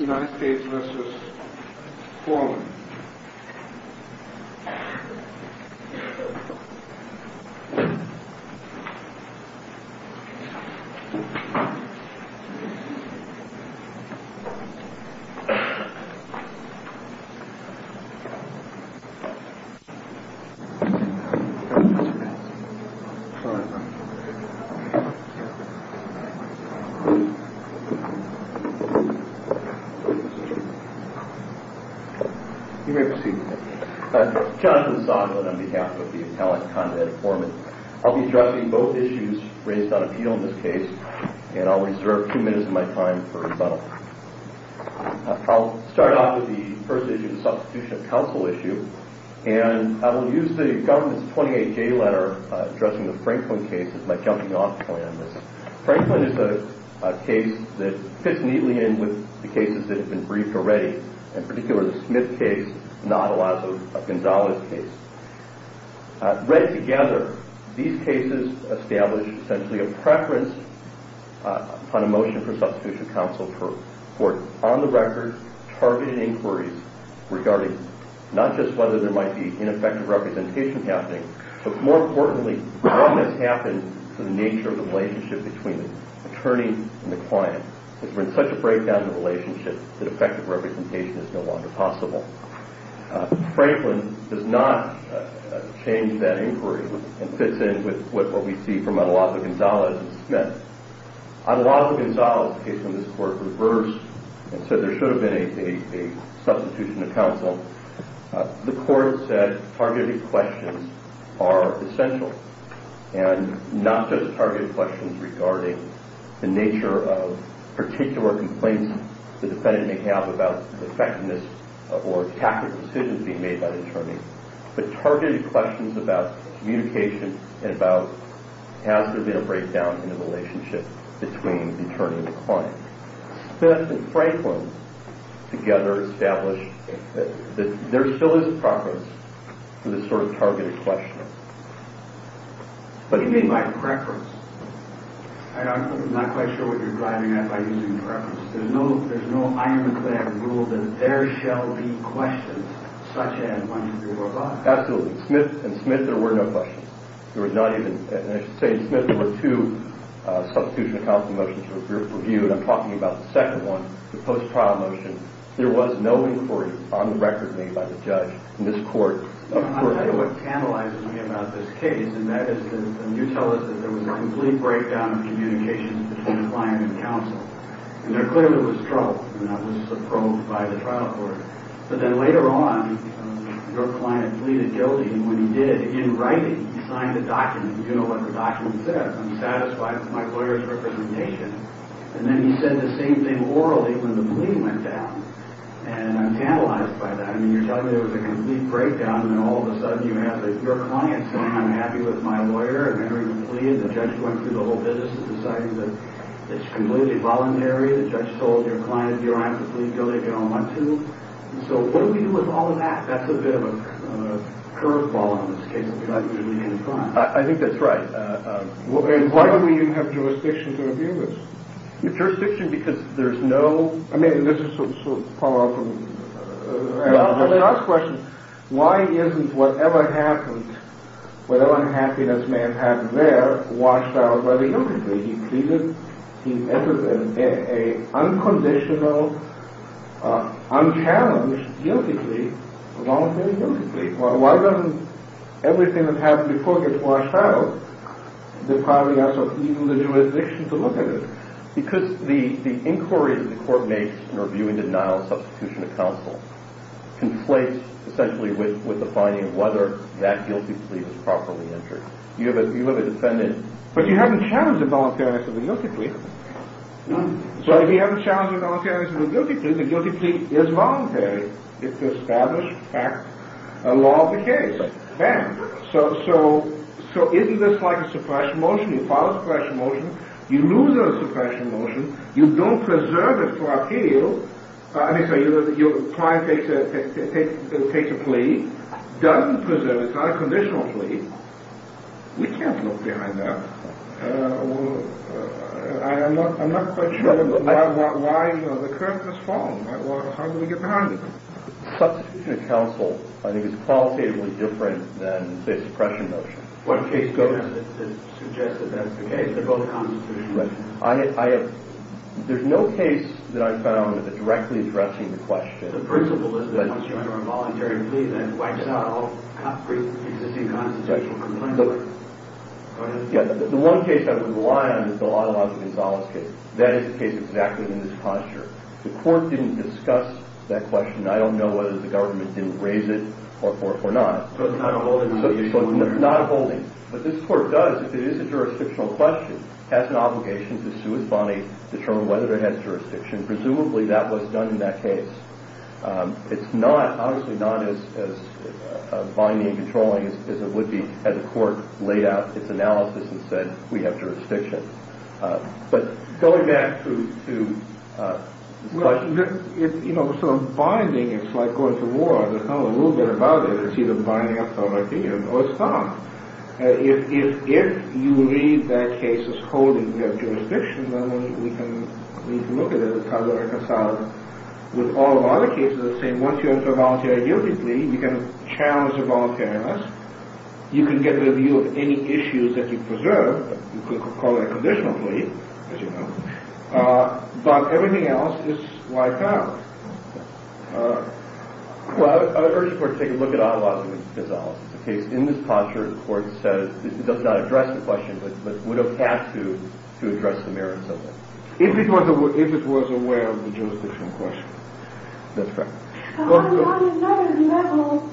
United States v. Foreman United States v. United States v. United States v. Franklin does not change that inquiry and fits in with what we see from Adelanto-Gonzalez and Smith. Adelanto-Gonzalez' case in this court reversed and said there should have been a substitution of counsel. The court said targeted questions are essential and not just targeted questions regarding the nature of particular complaints the defendant may have about the effectiveness or tactic of decisions being made by the attorney, but targeted questions about communication and about has there been a breakdown in the relationship between the attorney and the client. Smith and Franklin together established that there still is a preference for this sort of targeted questioning. What do you mean by preference? I'm not quite sure what you're driving at by using preference. There's no ironclad rule that there shall be questions such as when you were alive. Absolutely. In Smith there were no questions. There was not even, and I should say in Smith there were two substitution of counsel motions for review, and I'm talking about the second one, the post-trial motion. There was no inquiry on the record made by the judge in this court. I don't know what tantalizes me about this case, and that is that you tell us that there was a complete breakdown in communications between the client and counsel, and there clearly was trouble, and that was approved by the trial court. But then later on your client pleaded guilty, and when he did, in writing he signed a document. Do you know what the document said? I'm satisfied with my lawyer's representation. And then he said the same thing orally when the plea went down, and I'm tantalized by that. I mean, you're telling me there was a complete breakdown, and then all of a sudden you have your client saying I'm happy with my lawyer, and then when you plead the judge went through the whole business of deciding that it's completely voluntary. The judge told your client you don't have to plead guilty if you don't want to. So what do we do with all of that? That's a bit of a curveball in this case that you're not usually going to find. I think that's right. And why don't we even have jurisdiction to review this? Jurisdiction because there's no – I mean, this is sort of a follow-up to the last question. Why isn't whatever happened, whatever unhappiness may have happened there, washed out by the guilty plea? He pleaded, he entered in an unconditional, unchallenged guilty plea, a voluntary guilty plea. Why doesn't everything that happened before get washed out? There probably isn't even the jurisdiction to look at it. Because the inquiry that the court makes in reviewing denial of substitution of counsel conflates essentially with the finding of whether that guilty plea was properly entered. You have a defendant – But you haven't challenged the voluntariness of the guilty plea. So if you haven't challenged the voluntariness of the guilty plea, the guilty plea is voluntary. It's an established fact, a law of the case. So isn't this like a suppression motion? You file a suppression motion. You lose a suppression motion. You don't preserve it for appeal. Let me say, your client takes a plea, doesn't preserve it. It's not a conditional plea. We can't look behind that. I'm not quite sure why the curtain has fallen. How do we get behind it? Substitution of counsel, I think, is qualitatively different than, say, a suppression motion. What case goes to suggest that that's the case? They're both constitutional. There's no case that I've found that's directly addressing the question. The principle is that once you enter a voluntary plea, then it wipes out all pre-existing constitutional complaints. Go ahead. The one case I would rely on is the Law and Laws of Gonzales case. That is the case exactly in this posture. The court didn't discuss that question. I don't know whether the government didn't raise it or not. So it's not a holding procedure? It's not a holding. But this court does, if it is a jurisdictional question, has an obligation to sue its body, determine whether it has jurisdiction. Presumably that was done in that case. It's not, obviously not as binding and controlling as it would be had the court laid out its analysis and said, we have jurisdiction. But going back to the question. It's sort of binding. It's like going to war. There's not a little bit about it. It's either binding or it's not. If you read that case as holding jurisdiction, then we can look at it as how to reconcile it with all of our other cases. Once you enter a voluntary duty plea, you can challenge the voluntariness. You can get the review of any issues that you preserve. You could call it a conditional plea, as you know. But everything else is wiped out. Well, I urge the court to take a look at our laws and its analysis. In this posture, the court says it does not address the question, but would have had to, to address the merits of it. If it was aware of the jurisdictional question. That's correct. On another level,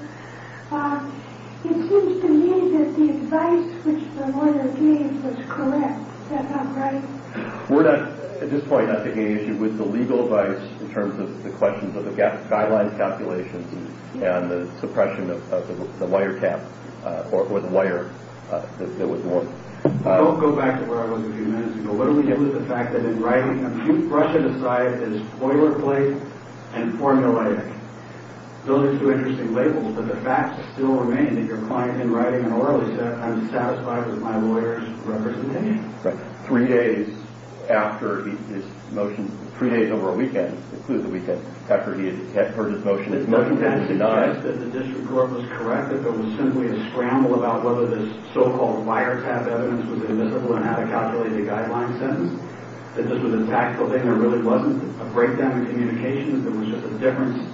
it seems to me that the advice which the lawyer gave was correct. Is that not right? We're not, at this point, at the age with the legal advice in terms of the questions of the guideline calculations and the suppression of the wiretap or the wire that was worn. Don't go back to where I was a few minutes ago. Let me get into the fact that in writing, if you brush it aside as boilerplate and formulaic, those are two interesting labels, but the facts still remain that your client, in writing and orally, said, I'm satisfied with my lawyer's representation. Right. Three days after his motion, three days over a weekend, including the weekend after he had heard his motion, that the district court was correct, that there was simply a scramble about whether this so-called wiretap evidence was admissible and how to calculate a guideline sentence, that this was a tactical thing and there really wasn't a breakdown in communication, that there was just a difference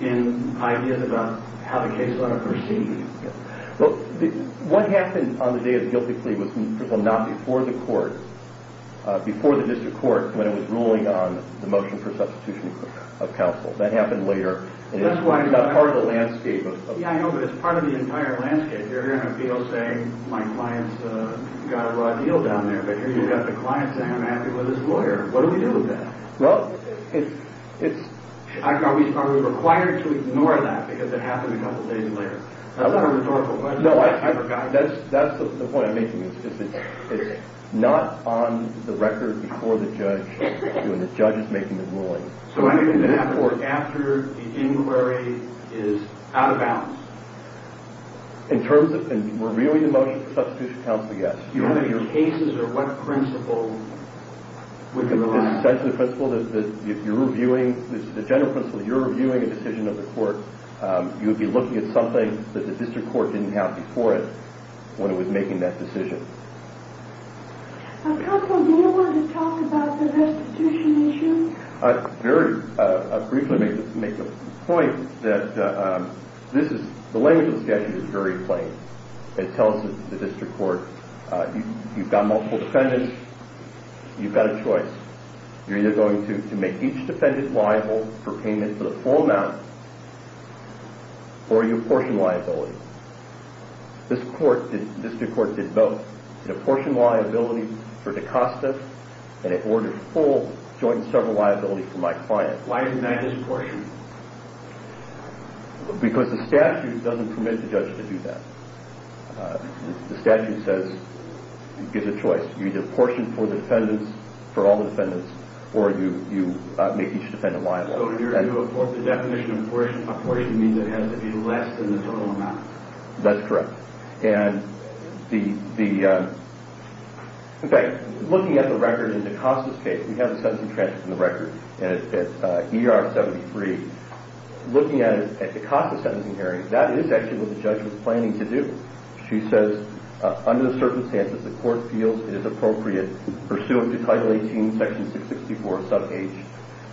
in ideas about how the case ought to proceed. What happened on the day of the guilty plea was not before the court, before the district court, when it was ruling on the motion for substitution of counsel. That happened later, and it's not part of the landscape. Yeah, I know, but it's part of the entire landscape. You're hearing a appeal saying my client's got a raw deal down there, but here you've got the client saying I'm happy with his lawyer. What do we do with that? Well, it's... Are we required to ignore that because it happened a couple of days later? That's not a rhetorical question. No, that's the point I'm making. It's not on the record before the judge, when the judge is making the ruling. So what do you do after the inquiry is out of bounds? In terms of reviewing the motion for substitution of counsel, yes. Do you have any cases or what principle would you rely on? Essentially the principle that if you're reviewing, the general principle that you're reviewing a decision of the court, you would be looking at something that the district court didn't have before it when it was making that decision. Counsel, do you want to talk about the restitution issue? Very briefly make the point that this is... The language of the statute is very plain. It tells the district court you've got multiple defendants, you've got a choice. You're either going to make each defendant liable for payment to the full amount or you apportion liability. This district court did both. It apportioned liability for DaCosta and it ordered full joint and several liability for my client. Why didn't that just apportion? Because the statute doesn't permit the judge to do that. The statute gives a choice. You either apportion for the defendants, for all the defendants, or you make each defendant liable. So the definition of apportion means it has to be less than the total amount. That's correct. And the... In fact, looking at the record in DaCosta's case, we have a sentencing transcript in the record. It's ER 73. Looking at DaCosta's sentencing hearing, that is actually what the judge was planning to do. She says, under the circumstances, the court feels it is appropriate, pursuant to Title 18, Section 664, sub H,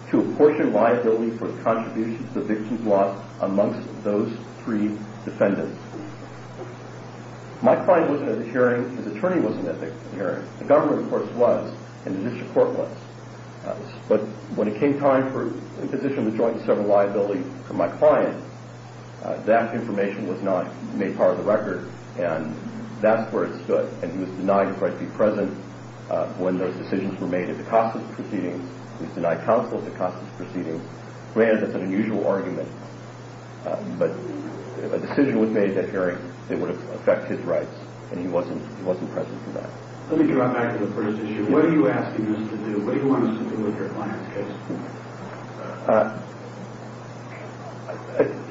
to apportion liability for the contribution to the victim's loss amongst those three defendants. My client wasn't at the hearing. His attorney wasn't at the hearing. The government, of course, was, and the district court was. But when it came time for imposition of the joint and several liability for my client, that information was not made part of the record, and that's where it stood. when those decisions were made at DaCosta's proceedings. He was denied counsel at DaCosta's proceedings. Granted that's an unusual argument, but a decision was made at that hearing that would affect his rights, and he wasn't present for that. Let me draw back to the first issue. What are you asking us to do? What do you want us to do with your client's case?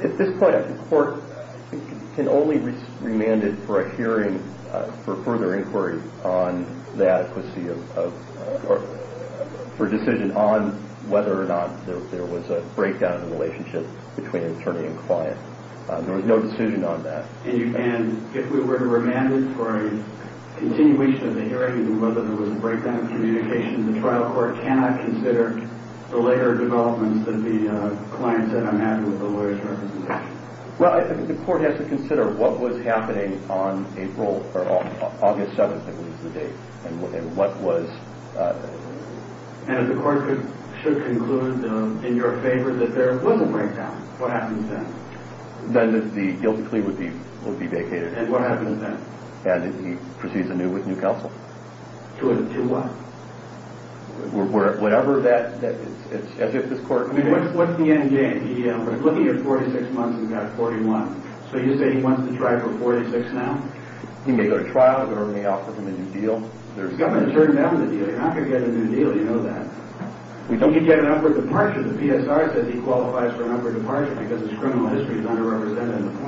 At this point, the court can only remand it for a hearing for further inquiry on the adequacy of, for a decision on whether or not there was a breakdown in the relationship between attorney and client. There was no decision on that. And if we were to remand it for a continuation of the hearing, whether there was a breakdown in communication, the trial court cannot consider the later developments that the client said, I'm happy with the lawyer's representation? Well, I think the court has to consider what was happening on April, or on August 7th, I believe is the date, and what was... And if the court should conclude in your favor that there was a breakdown, what happens then? Then the guilty plea would be vacated. And what happens then? And he proceeds anew with new counsel. To what? Whatever that, as if this court... What's the end game? We're looking at 46 months, and we've got 41. So you say he wants to try for 46 now? He may go to trial. We may offer him a new deal. He's got to turn down the deal. You're not going to get a new deal. You know that. He could get an upward departure. The PSR says he qualifies for an upward departure because his criminal history is underrepresented in the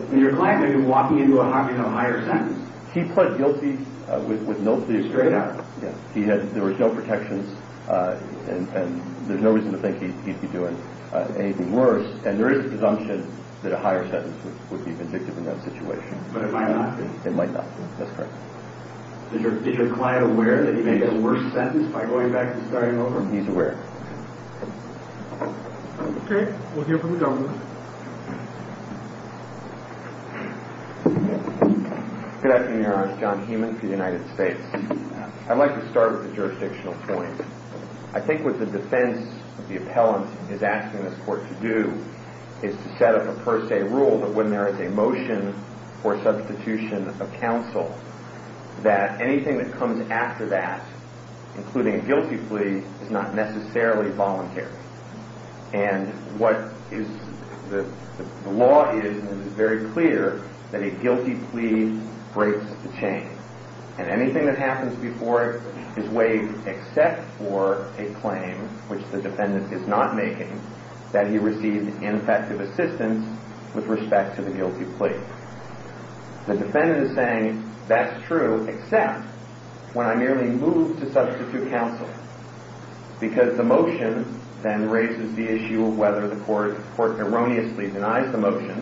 point. Your client may be walking into a higher sentence. He pled guilty with no plea. Straight up? Yes. There was no protections. And there's no reason to think he'd be doing anything worse. And there is a presumption that a higher sentence would be vindictive in that situation. But it might not be. It might not be. That's correct. Is your client aware that he may get a worse sentence by going back to the starting over? He's aware. Okay. We'll hear from the government. Good afternoon, Your Honor. John Heumann for the United States. I'd like to start with the jurisdictional point. I think what the defense of the appellant is asking this court to do is to set up a per se rule that when there is a motion for substitution of counsel that anything that comes after that, including a guilty plea, is not necessarily voluntary. And what the law is, and it's very clear, that a guilty plea breaks the chain. And anything that happens before it is waived except for a claim, which the defendant is not making, that he received ineffective assistance with respect to the guilty plea. The defendant is saying, that's true, except when I merely move to substitute counsel. Because the motion then raises the issue of whether the court erroneously denies the motion.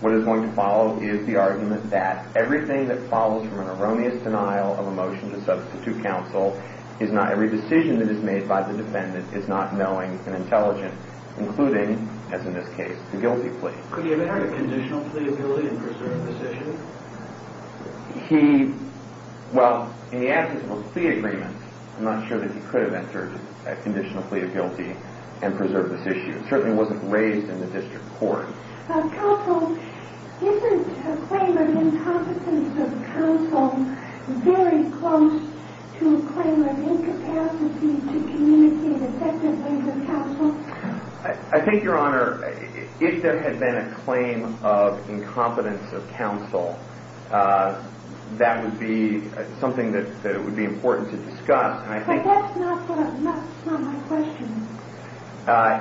What is going to follow is the argument that everything that follows from an erroneous denial of a motion to substitute counsel is not every decision that is made by the defendant is not knowing and intelligent, including, as in this case, the guilty plea. Could he have entered a conditional plea of guilty and preserved this issue? He, well, in the absence of a plea agreement, I'm not sure that he could have entered a conditional plea of guilty and preserved this issue. It certainly wasn't raised in the district court. Counsel, isn't a claim of incompetence of counsel very close to a claim of incapacity to communicate effectively with counsel? I think, Your Honor, if there had been a claim of incompetence of counsel, that would be something that would be important to discuss. But that's not my question.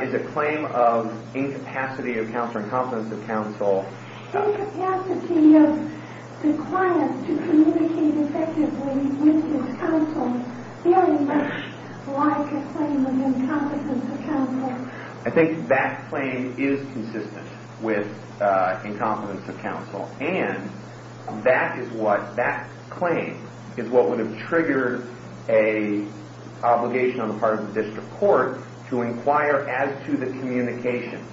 Is a claim of incapacity of counsel or incompetence of counsel... Incapacity of the client to communicate effectively with his counsel very much like a claim of incompetence of counsel. I think that claim is consistent with incompetence of counsel. And that claim is what would have triggered an obligation on the part of the district court to inquire as to the communication.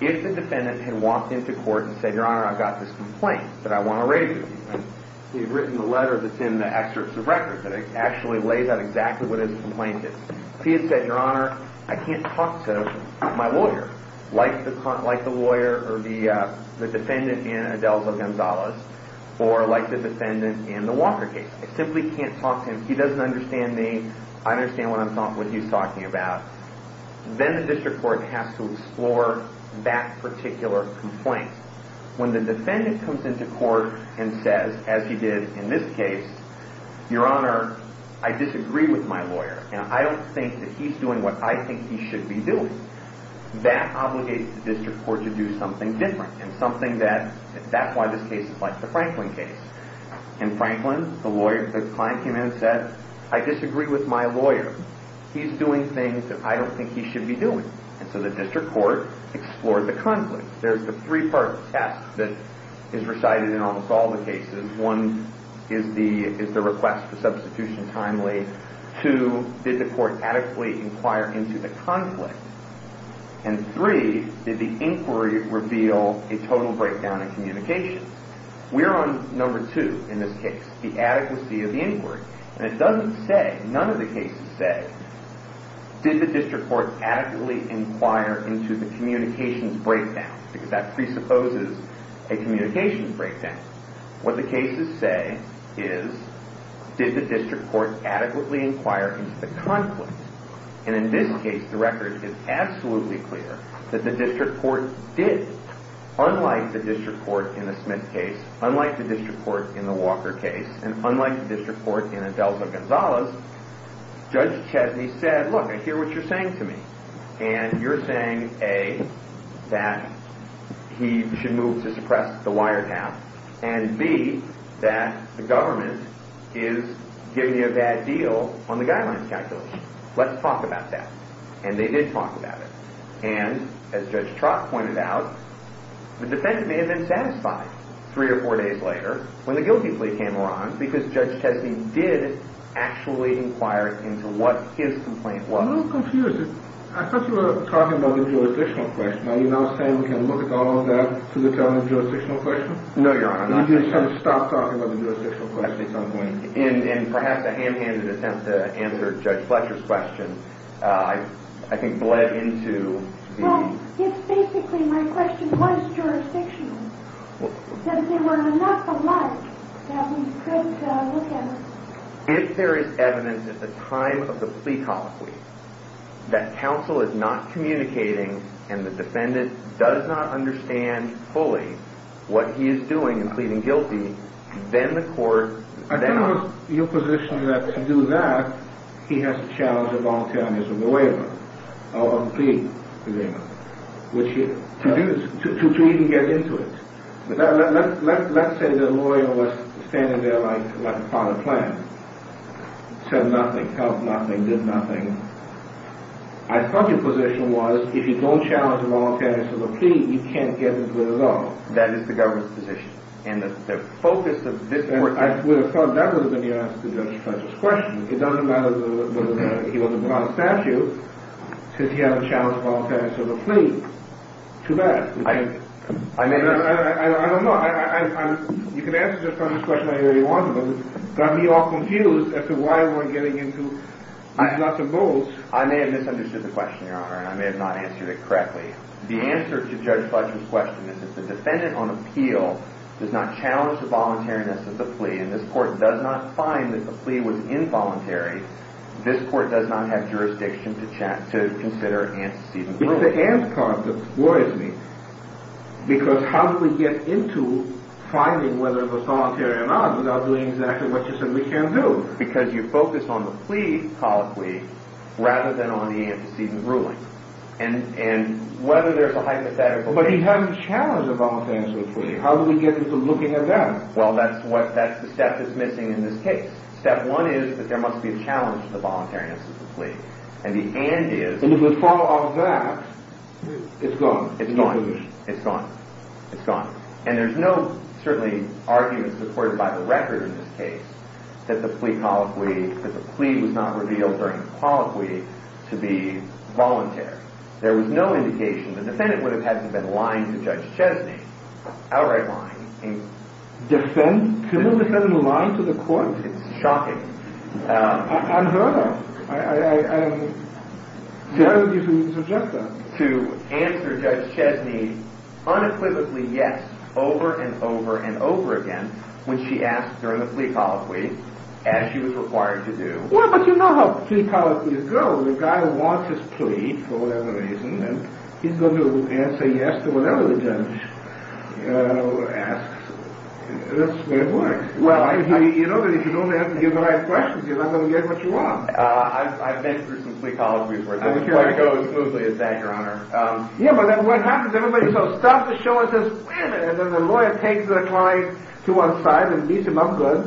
If the defendant had walked into court and said, Your Honor, I've got this complaint that I want to raise with you. He'd written a letter that's in the excerpts of records that actually lays out exactly what his complaint is. If he had said, Your Honor, I can't talk to my lawyer, like the lawyer or the defendant in Adelzo Gonzalez, or like the defendant in the Walker case. I simply can't talk to him. He doesn't understand me. I don't understand what he's talking about. Then the district court has to explore that particular complaint. When the defendant comes into court and says, as he did in this case, Your Honor, I disagree with my lawyer. And I don't think that he's doing what I think he should be doing. That obligates the district court to do something different, and that's why this case is like the Franklin case. In Franklin, the client came in and said, I disagree with my lawyer. He's doing things that I don't think he should be doing. And so the district court explored the conflict. There's the three-part test that is recited in almost all the cases. One is the request for substitution timely. Two, did the court adequately inquire into the conflict? And three, did the inquiry reveal a total breakdown in communication? We're on number two in this case, the adequacy of the inquiry. And it doesn't say, none of the cases say, did the district court adequately inquire into the communications breakdown? Because that presupposes a communications breakdown. What the cases say is, did the district court adequately inquire into the conflict? And in this case, the record is absolutely clear that the district court did. Unlike the district court in the Smith case, unlike the district court in the Walker case, and unlike the district court in Adelzo Gonzales, Judge Chesney said, look, I hear what you're saying to me. And you're saying, A, that he should move to suppress the wiretap, and B, that the government is giving you a bad deal on the guidelines calculation. Let's talk about that. And they did talk about it. And as Judge Trott pointed out, the defendant may have been satisfied three or four days later when the guilty plea came around, because Judge Chesney did actually inquire into what his complaint was. I'm a little confused. I thought you were talking about the jurisdictional question. Are you now saying we can look at all of that to determine the jurisdictional question? No, Your Honor. You just have to stop talking about the jurisdictional question. At some point. In perhaps a hand-handed attempt to answer Judge Fletcher's question, I think bled into the... Well, it's basically my question was jurisdictional, that there were enough alike that we could look at it. If there is evidence at the time of the plea colloquy that counsel is not communicating and the defendant does not understand fully what he is doing in pleading guilty, then the court... I think it was your position that to do that, he has to challenge the voluntariness of the waiver, of the plea agreement, to even get into it. Let's say the lawyer was standing there like a part of the plan, said nothing, helped nothing, did nothing. I thought your position was if you don't challenge the voluntariness of the plea, you can't get into it at all. That is the government's position. And the focus of this court... I would have thought that would have been your answer to Judge Fletcher's question. It doesn't matter whether he was above statute, since he hasn't challenged the voluntariness of the plea. Too bad. I don't know. You can answer Judge Fletcher's question any way you want to, but it got me all confused as to why we're getting into lots of bulls. I may have misunderstood the question, Your Honor, and I may have not answered it correctly. The answer to Judge Fletcher's question is that the defendant on appeal does not challenge the voluntariness of the plea, and this court does not find that the plea was involuntary. This court does not have jurisdiction to consider antecedents. It's the and part that worries me, because how do we get into finding whether it was voluntary or not without doing exactly what you said we can't do? Because you focus on the plea, probably, rather than on the antecedent ruling. And whether there's a hypothetical plea... But he hasn't challenged the voluntariness of the plea. How do we get into looking at that? Well, that's the step that's missing in this case. Step one is that there must be a challenge to the voluntariness of the plea. And the and is... And if we fall off that, it's gone. It's gone. It's gone. It's gone. And there's no, certainly, argument supported by the record in this case that the plea colloquy... that the plea was not revealed during the colloquy to be voluntary. There was no indication. The defendant would have had to have been lying to Judge Chesney, outright lying. Defend? The defendant lied to the court? It's shocking. Unheard of. Why would you suggest that? To answer Judge Chesney unequivocally yes over and over and over again when she asked during the plea colloquy, as she was required to do. Well, but you know how plea colloquies go. The guy wants his plea for whatever reason, and he's going to answer yes to whatever the judge asks. That's the way it works. You know that if you don't answer the right questions, you're not going to get what you want. I've been through some plea colloquies where it doesn't quite go as smoothly as that, Your Honor. Yeah, but what happens is everybody starts the show and says, wait a minute, and then the lawyer takes the client to one side and meets him up good.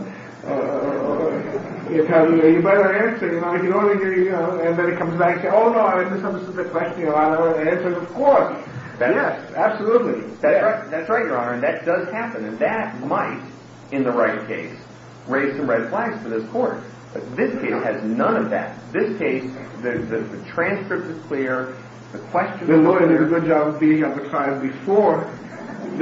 You better answer, you know. And then he comes back and says, oh, no, I just have a specific question and I'll answer it, of course. Yes, absolutely. That's right, Your Honor, and that does happen, and that might, in the right case, raise some red flags for this court. But this case has none of that. This case, the transcript is clear, the questions are clear. The lawyer did a good job of beating up the client before. You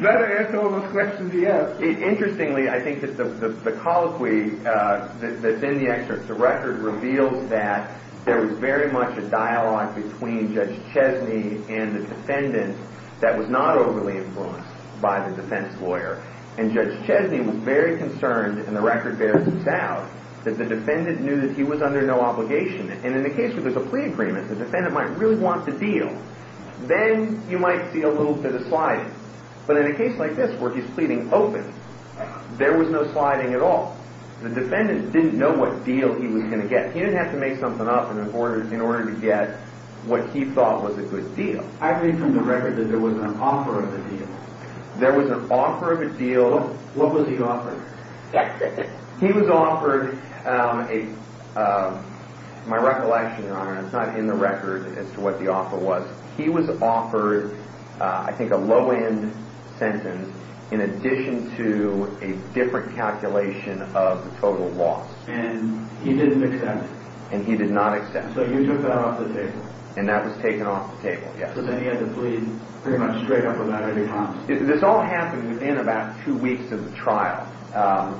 better answer all those questions he asks. Interestingly, I think that the colloquy that's in the excerpt, the record reveals that there was very much a dialogue between Judge Chesney and the defendant that was not overly influenced by the defense lawyer, and Judge Chesney was very concerned, and the record bears this out, that the defendant knew that he was under no obligation. And in the case where there's a plea agreement, the defendant might really want the deal. Then you might see a little bit of sliding. But in a case like this where he's pleading open, there was no sliding at all. The defendant didn't know what deal he was going to get. He didn't have to make something up in order to get what he thought was a good deal. I read from the record that there was an offer of a deal. There was an offer of a deal. What was he offered? He was offered a, my recollection, Your Honor, it's not in the record as to what the offer was. He was offered, I think, a low-end sentence in addition to a different calculation of the total loss. And he didn't accept it. And he did not accept it. So he took that off the table. And that was taken off the table, yes. So then he had to plead pretty much straight up without any prompts. This all happened within about two weeks of the trial.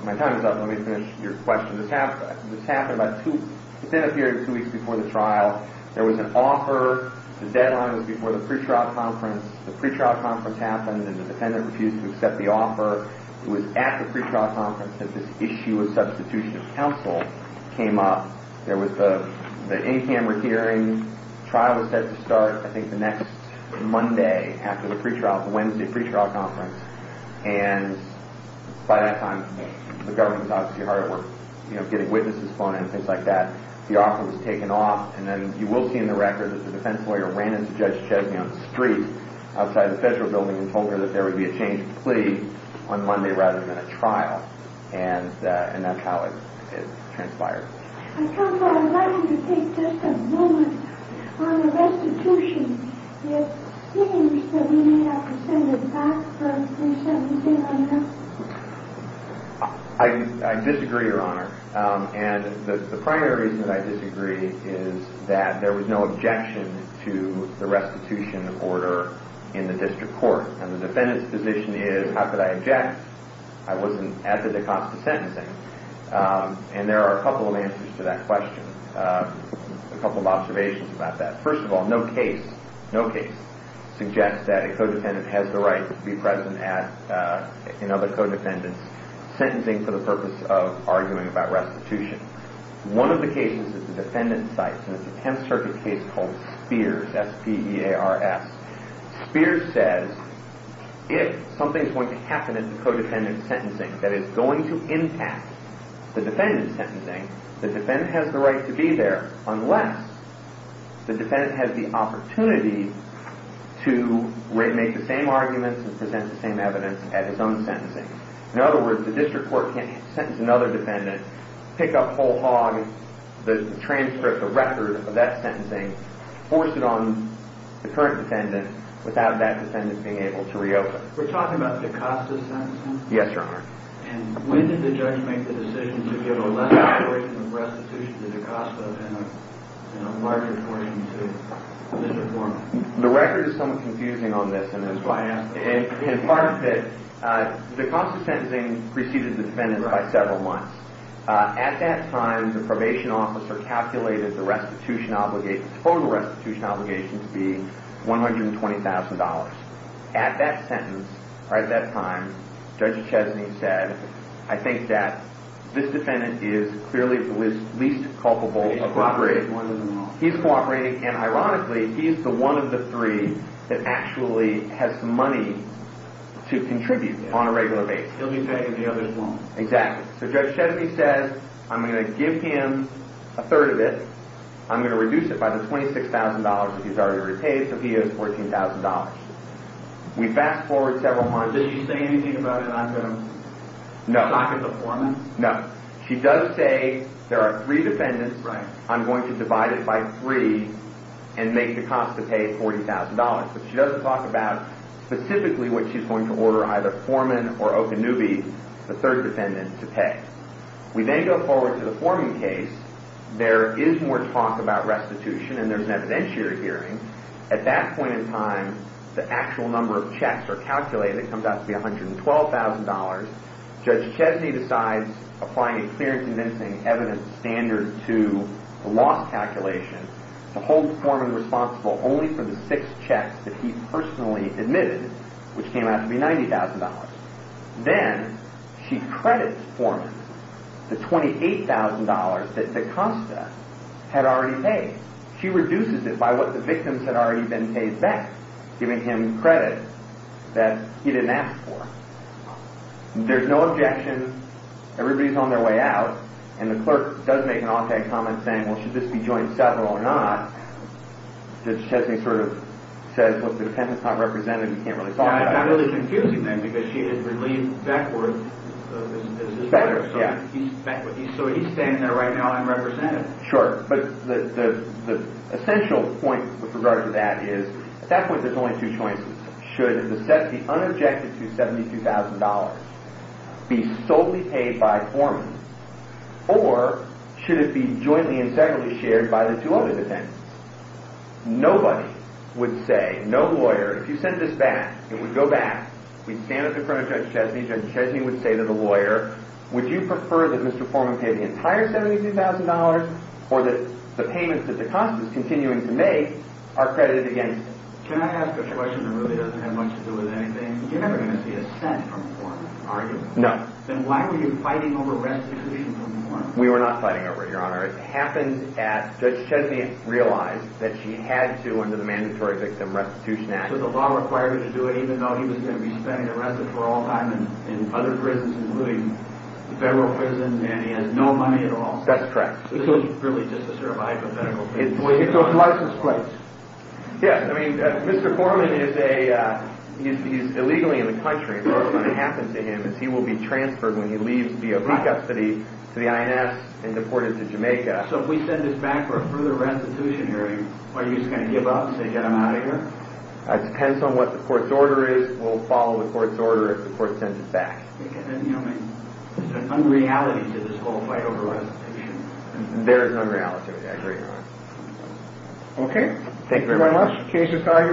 My time is up. Let me finish your question. This happened about two, this ended a period of two weeks before the trial. There was an offer. The deadline was before the pretrial conference. The pretrial conference happened, and the defendant refused to accept the offer. It was at the pretrial conference that this issue of substitution of counsel came up. There was the in-camera hearing. The trial was set to start, I think, the next Monday after the pretrial, the Wednesday pretrial conference. And by that time, the government was obviously hard at work, you know, getting witnesses flown in and things like that. The offer was taken off. And then you will see in the record that the defense lawyer ran into Judge Chesney on the street outside the federal building and told her that there would be a change of plea on Monday rather than a trial. And that's how it transpired. I thought that I'd like you to take just a moment on the restitution. There are things that we may have to send it back for you to send it in right now. I disagree, Your Honor. And the primary reason that I disagree is that there was no objection to the restitution order in the district court. And the defendant's position is, how could I object? I wasn't at the DaCosta sentencing. And there are a couple of answers to that question, a couple of observations about that. First of all, no case suggests that a co-defendant has the right to be present in other co-defendants' sentencing for the purpose of arguing about restitution. One of the cases that the defendant cites is a Tenth Circuit case called Spears, S-P-E-A-R-S. Spears says, if something's going to happen in the co-defendant's sentencing that is going to impact the defendant's sentencing, the defendant has the right to be there unless the defendant has the opportunity to make the same arguments and present the same evidence at his own sentencing. In other words, the district court can't sentence another defendant, pick up whole hog the transcript, the record of that sentencing, force it on the current defendant without that defendant being able to reopen. We're talking about DaCosta's sentencing? Yes, Your Honor. And when did the judge make the decision to give a lesser portion of restitution to DaCosta and a larger portion to the district court? The record is somewhat confusing on this. That's why I asked. In part, the DaCosta sentencing preceded the defendant by several months. At that time, the probation officer calculated the restitution obligation, the total restitution obligation to be $120,000. At that sentence, or at that time, Judge Echesne said, I think that this defendant is clearly the least culpable of co-operating. He's co-operating. And ironically, he's the one of the three that actually has money to contribute on a regular basis. He'll be paying the others more. Exactly. So Judge Echesne says, I'm going to give him a third of it. I'm going to reduce it by the $26,000 that he's already repaid, so he has $14,000. We fast forward several months. Does she say anything about it? No. She does say there are three defendants. Right. I'm going to divide it by three and make DaCosta pay $40,000. But she doesn't talk about specifically what she's going to order either Foreman or Okanubi, the third defendant, to pay. We then go forward to the Foreman case. There is more talk about restitution, and there's an evidentiary hearing. At that point in time, the actual number of checks are calculated. It comes out to be $112,000. Judge Echesne decides, applying a clear and convincing evidence standard to the loss calculation, to hold the Foreman responsible only for the six checks that he personally admitted, which came out to be $90,000. Then she credits Foreman the $28,000 that DaCosta had already paid. She reduces it by what the victims had already been paid back, giving him credit that he didn't ask for. There's no objection. Everybody's on their way out. And the clerk does make an off-tag comment saying, well, should this be joined separately or not? Judge Echesne sort of says, well, if the defendant's not represented, you can't really talk about it. I'm really confusing them because she has relieved Beckwith as his lawyer. So he's standing there right now unrepresented. Sure. But the essential point with regard to that is, at that point there's only two choices. Should the set be unobjected to $72,000, be solely paid by Foreman, or should it be jointly and separately shared by the two other defendants? Nobody would say, no lawyer, if you sent this back, it would go back. We'd stand up in front of Judge Echesne. Judge Echesne would say to the lawyer, would you prefer that Mr. Foreman pay the entire $72,000 or that the payments that the cost is continuing to make are credited against him? Can I ask a question that really doesn't have much to do with anything? You're never going to see a cent from Foreman, are you? No. Then why were you fighting over restitution from Foreman? We were not fighting over it, Your Honor. It happened at Judge Echesne realized that she had to, under the Mandatory Victim Restitution Act. So the law required her to do it even though he was going to be spending the rest of her all time in other prisons, including the federal prisons, and he has no money at all? That's correct. So this is really just a sort of hypothetical case? It's an unlicensed place. Yes, I mean, Mr. Foreman is illegally in the country, and what's going to happen to him is he will be transferred when he leaves via peak custody to the INS and deported to Jamaica. So if we send this back for a further restitution hearing, are you just going to give up and say, get him out of here? It depends on what the court's order is. We'll follow the court's order if the court sends it back. There's an unreality to this whole fight over restitution. There is an unreality, I agree, Your Honor. Okay. Thank you very much. Case is filed. You will stand submitted.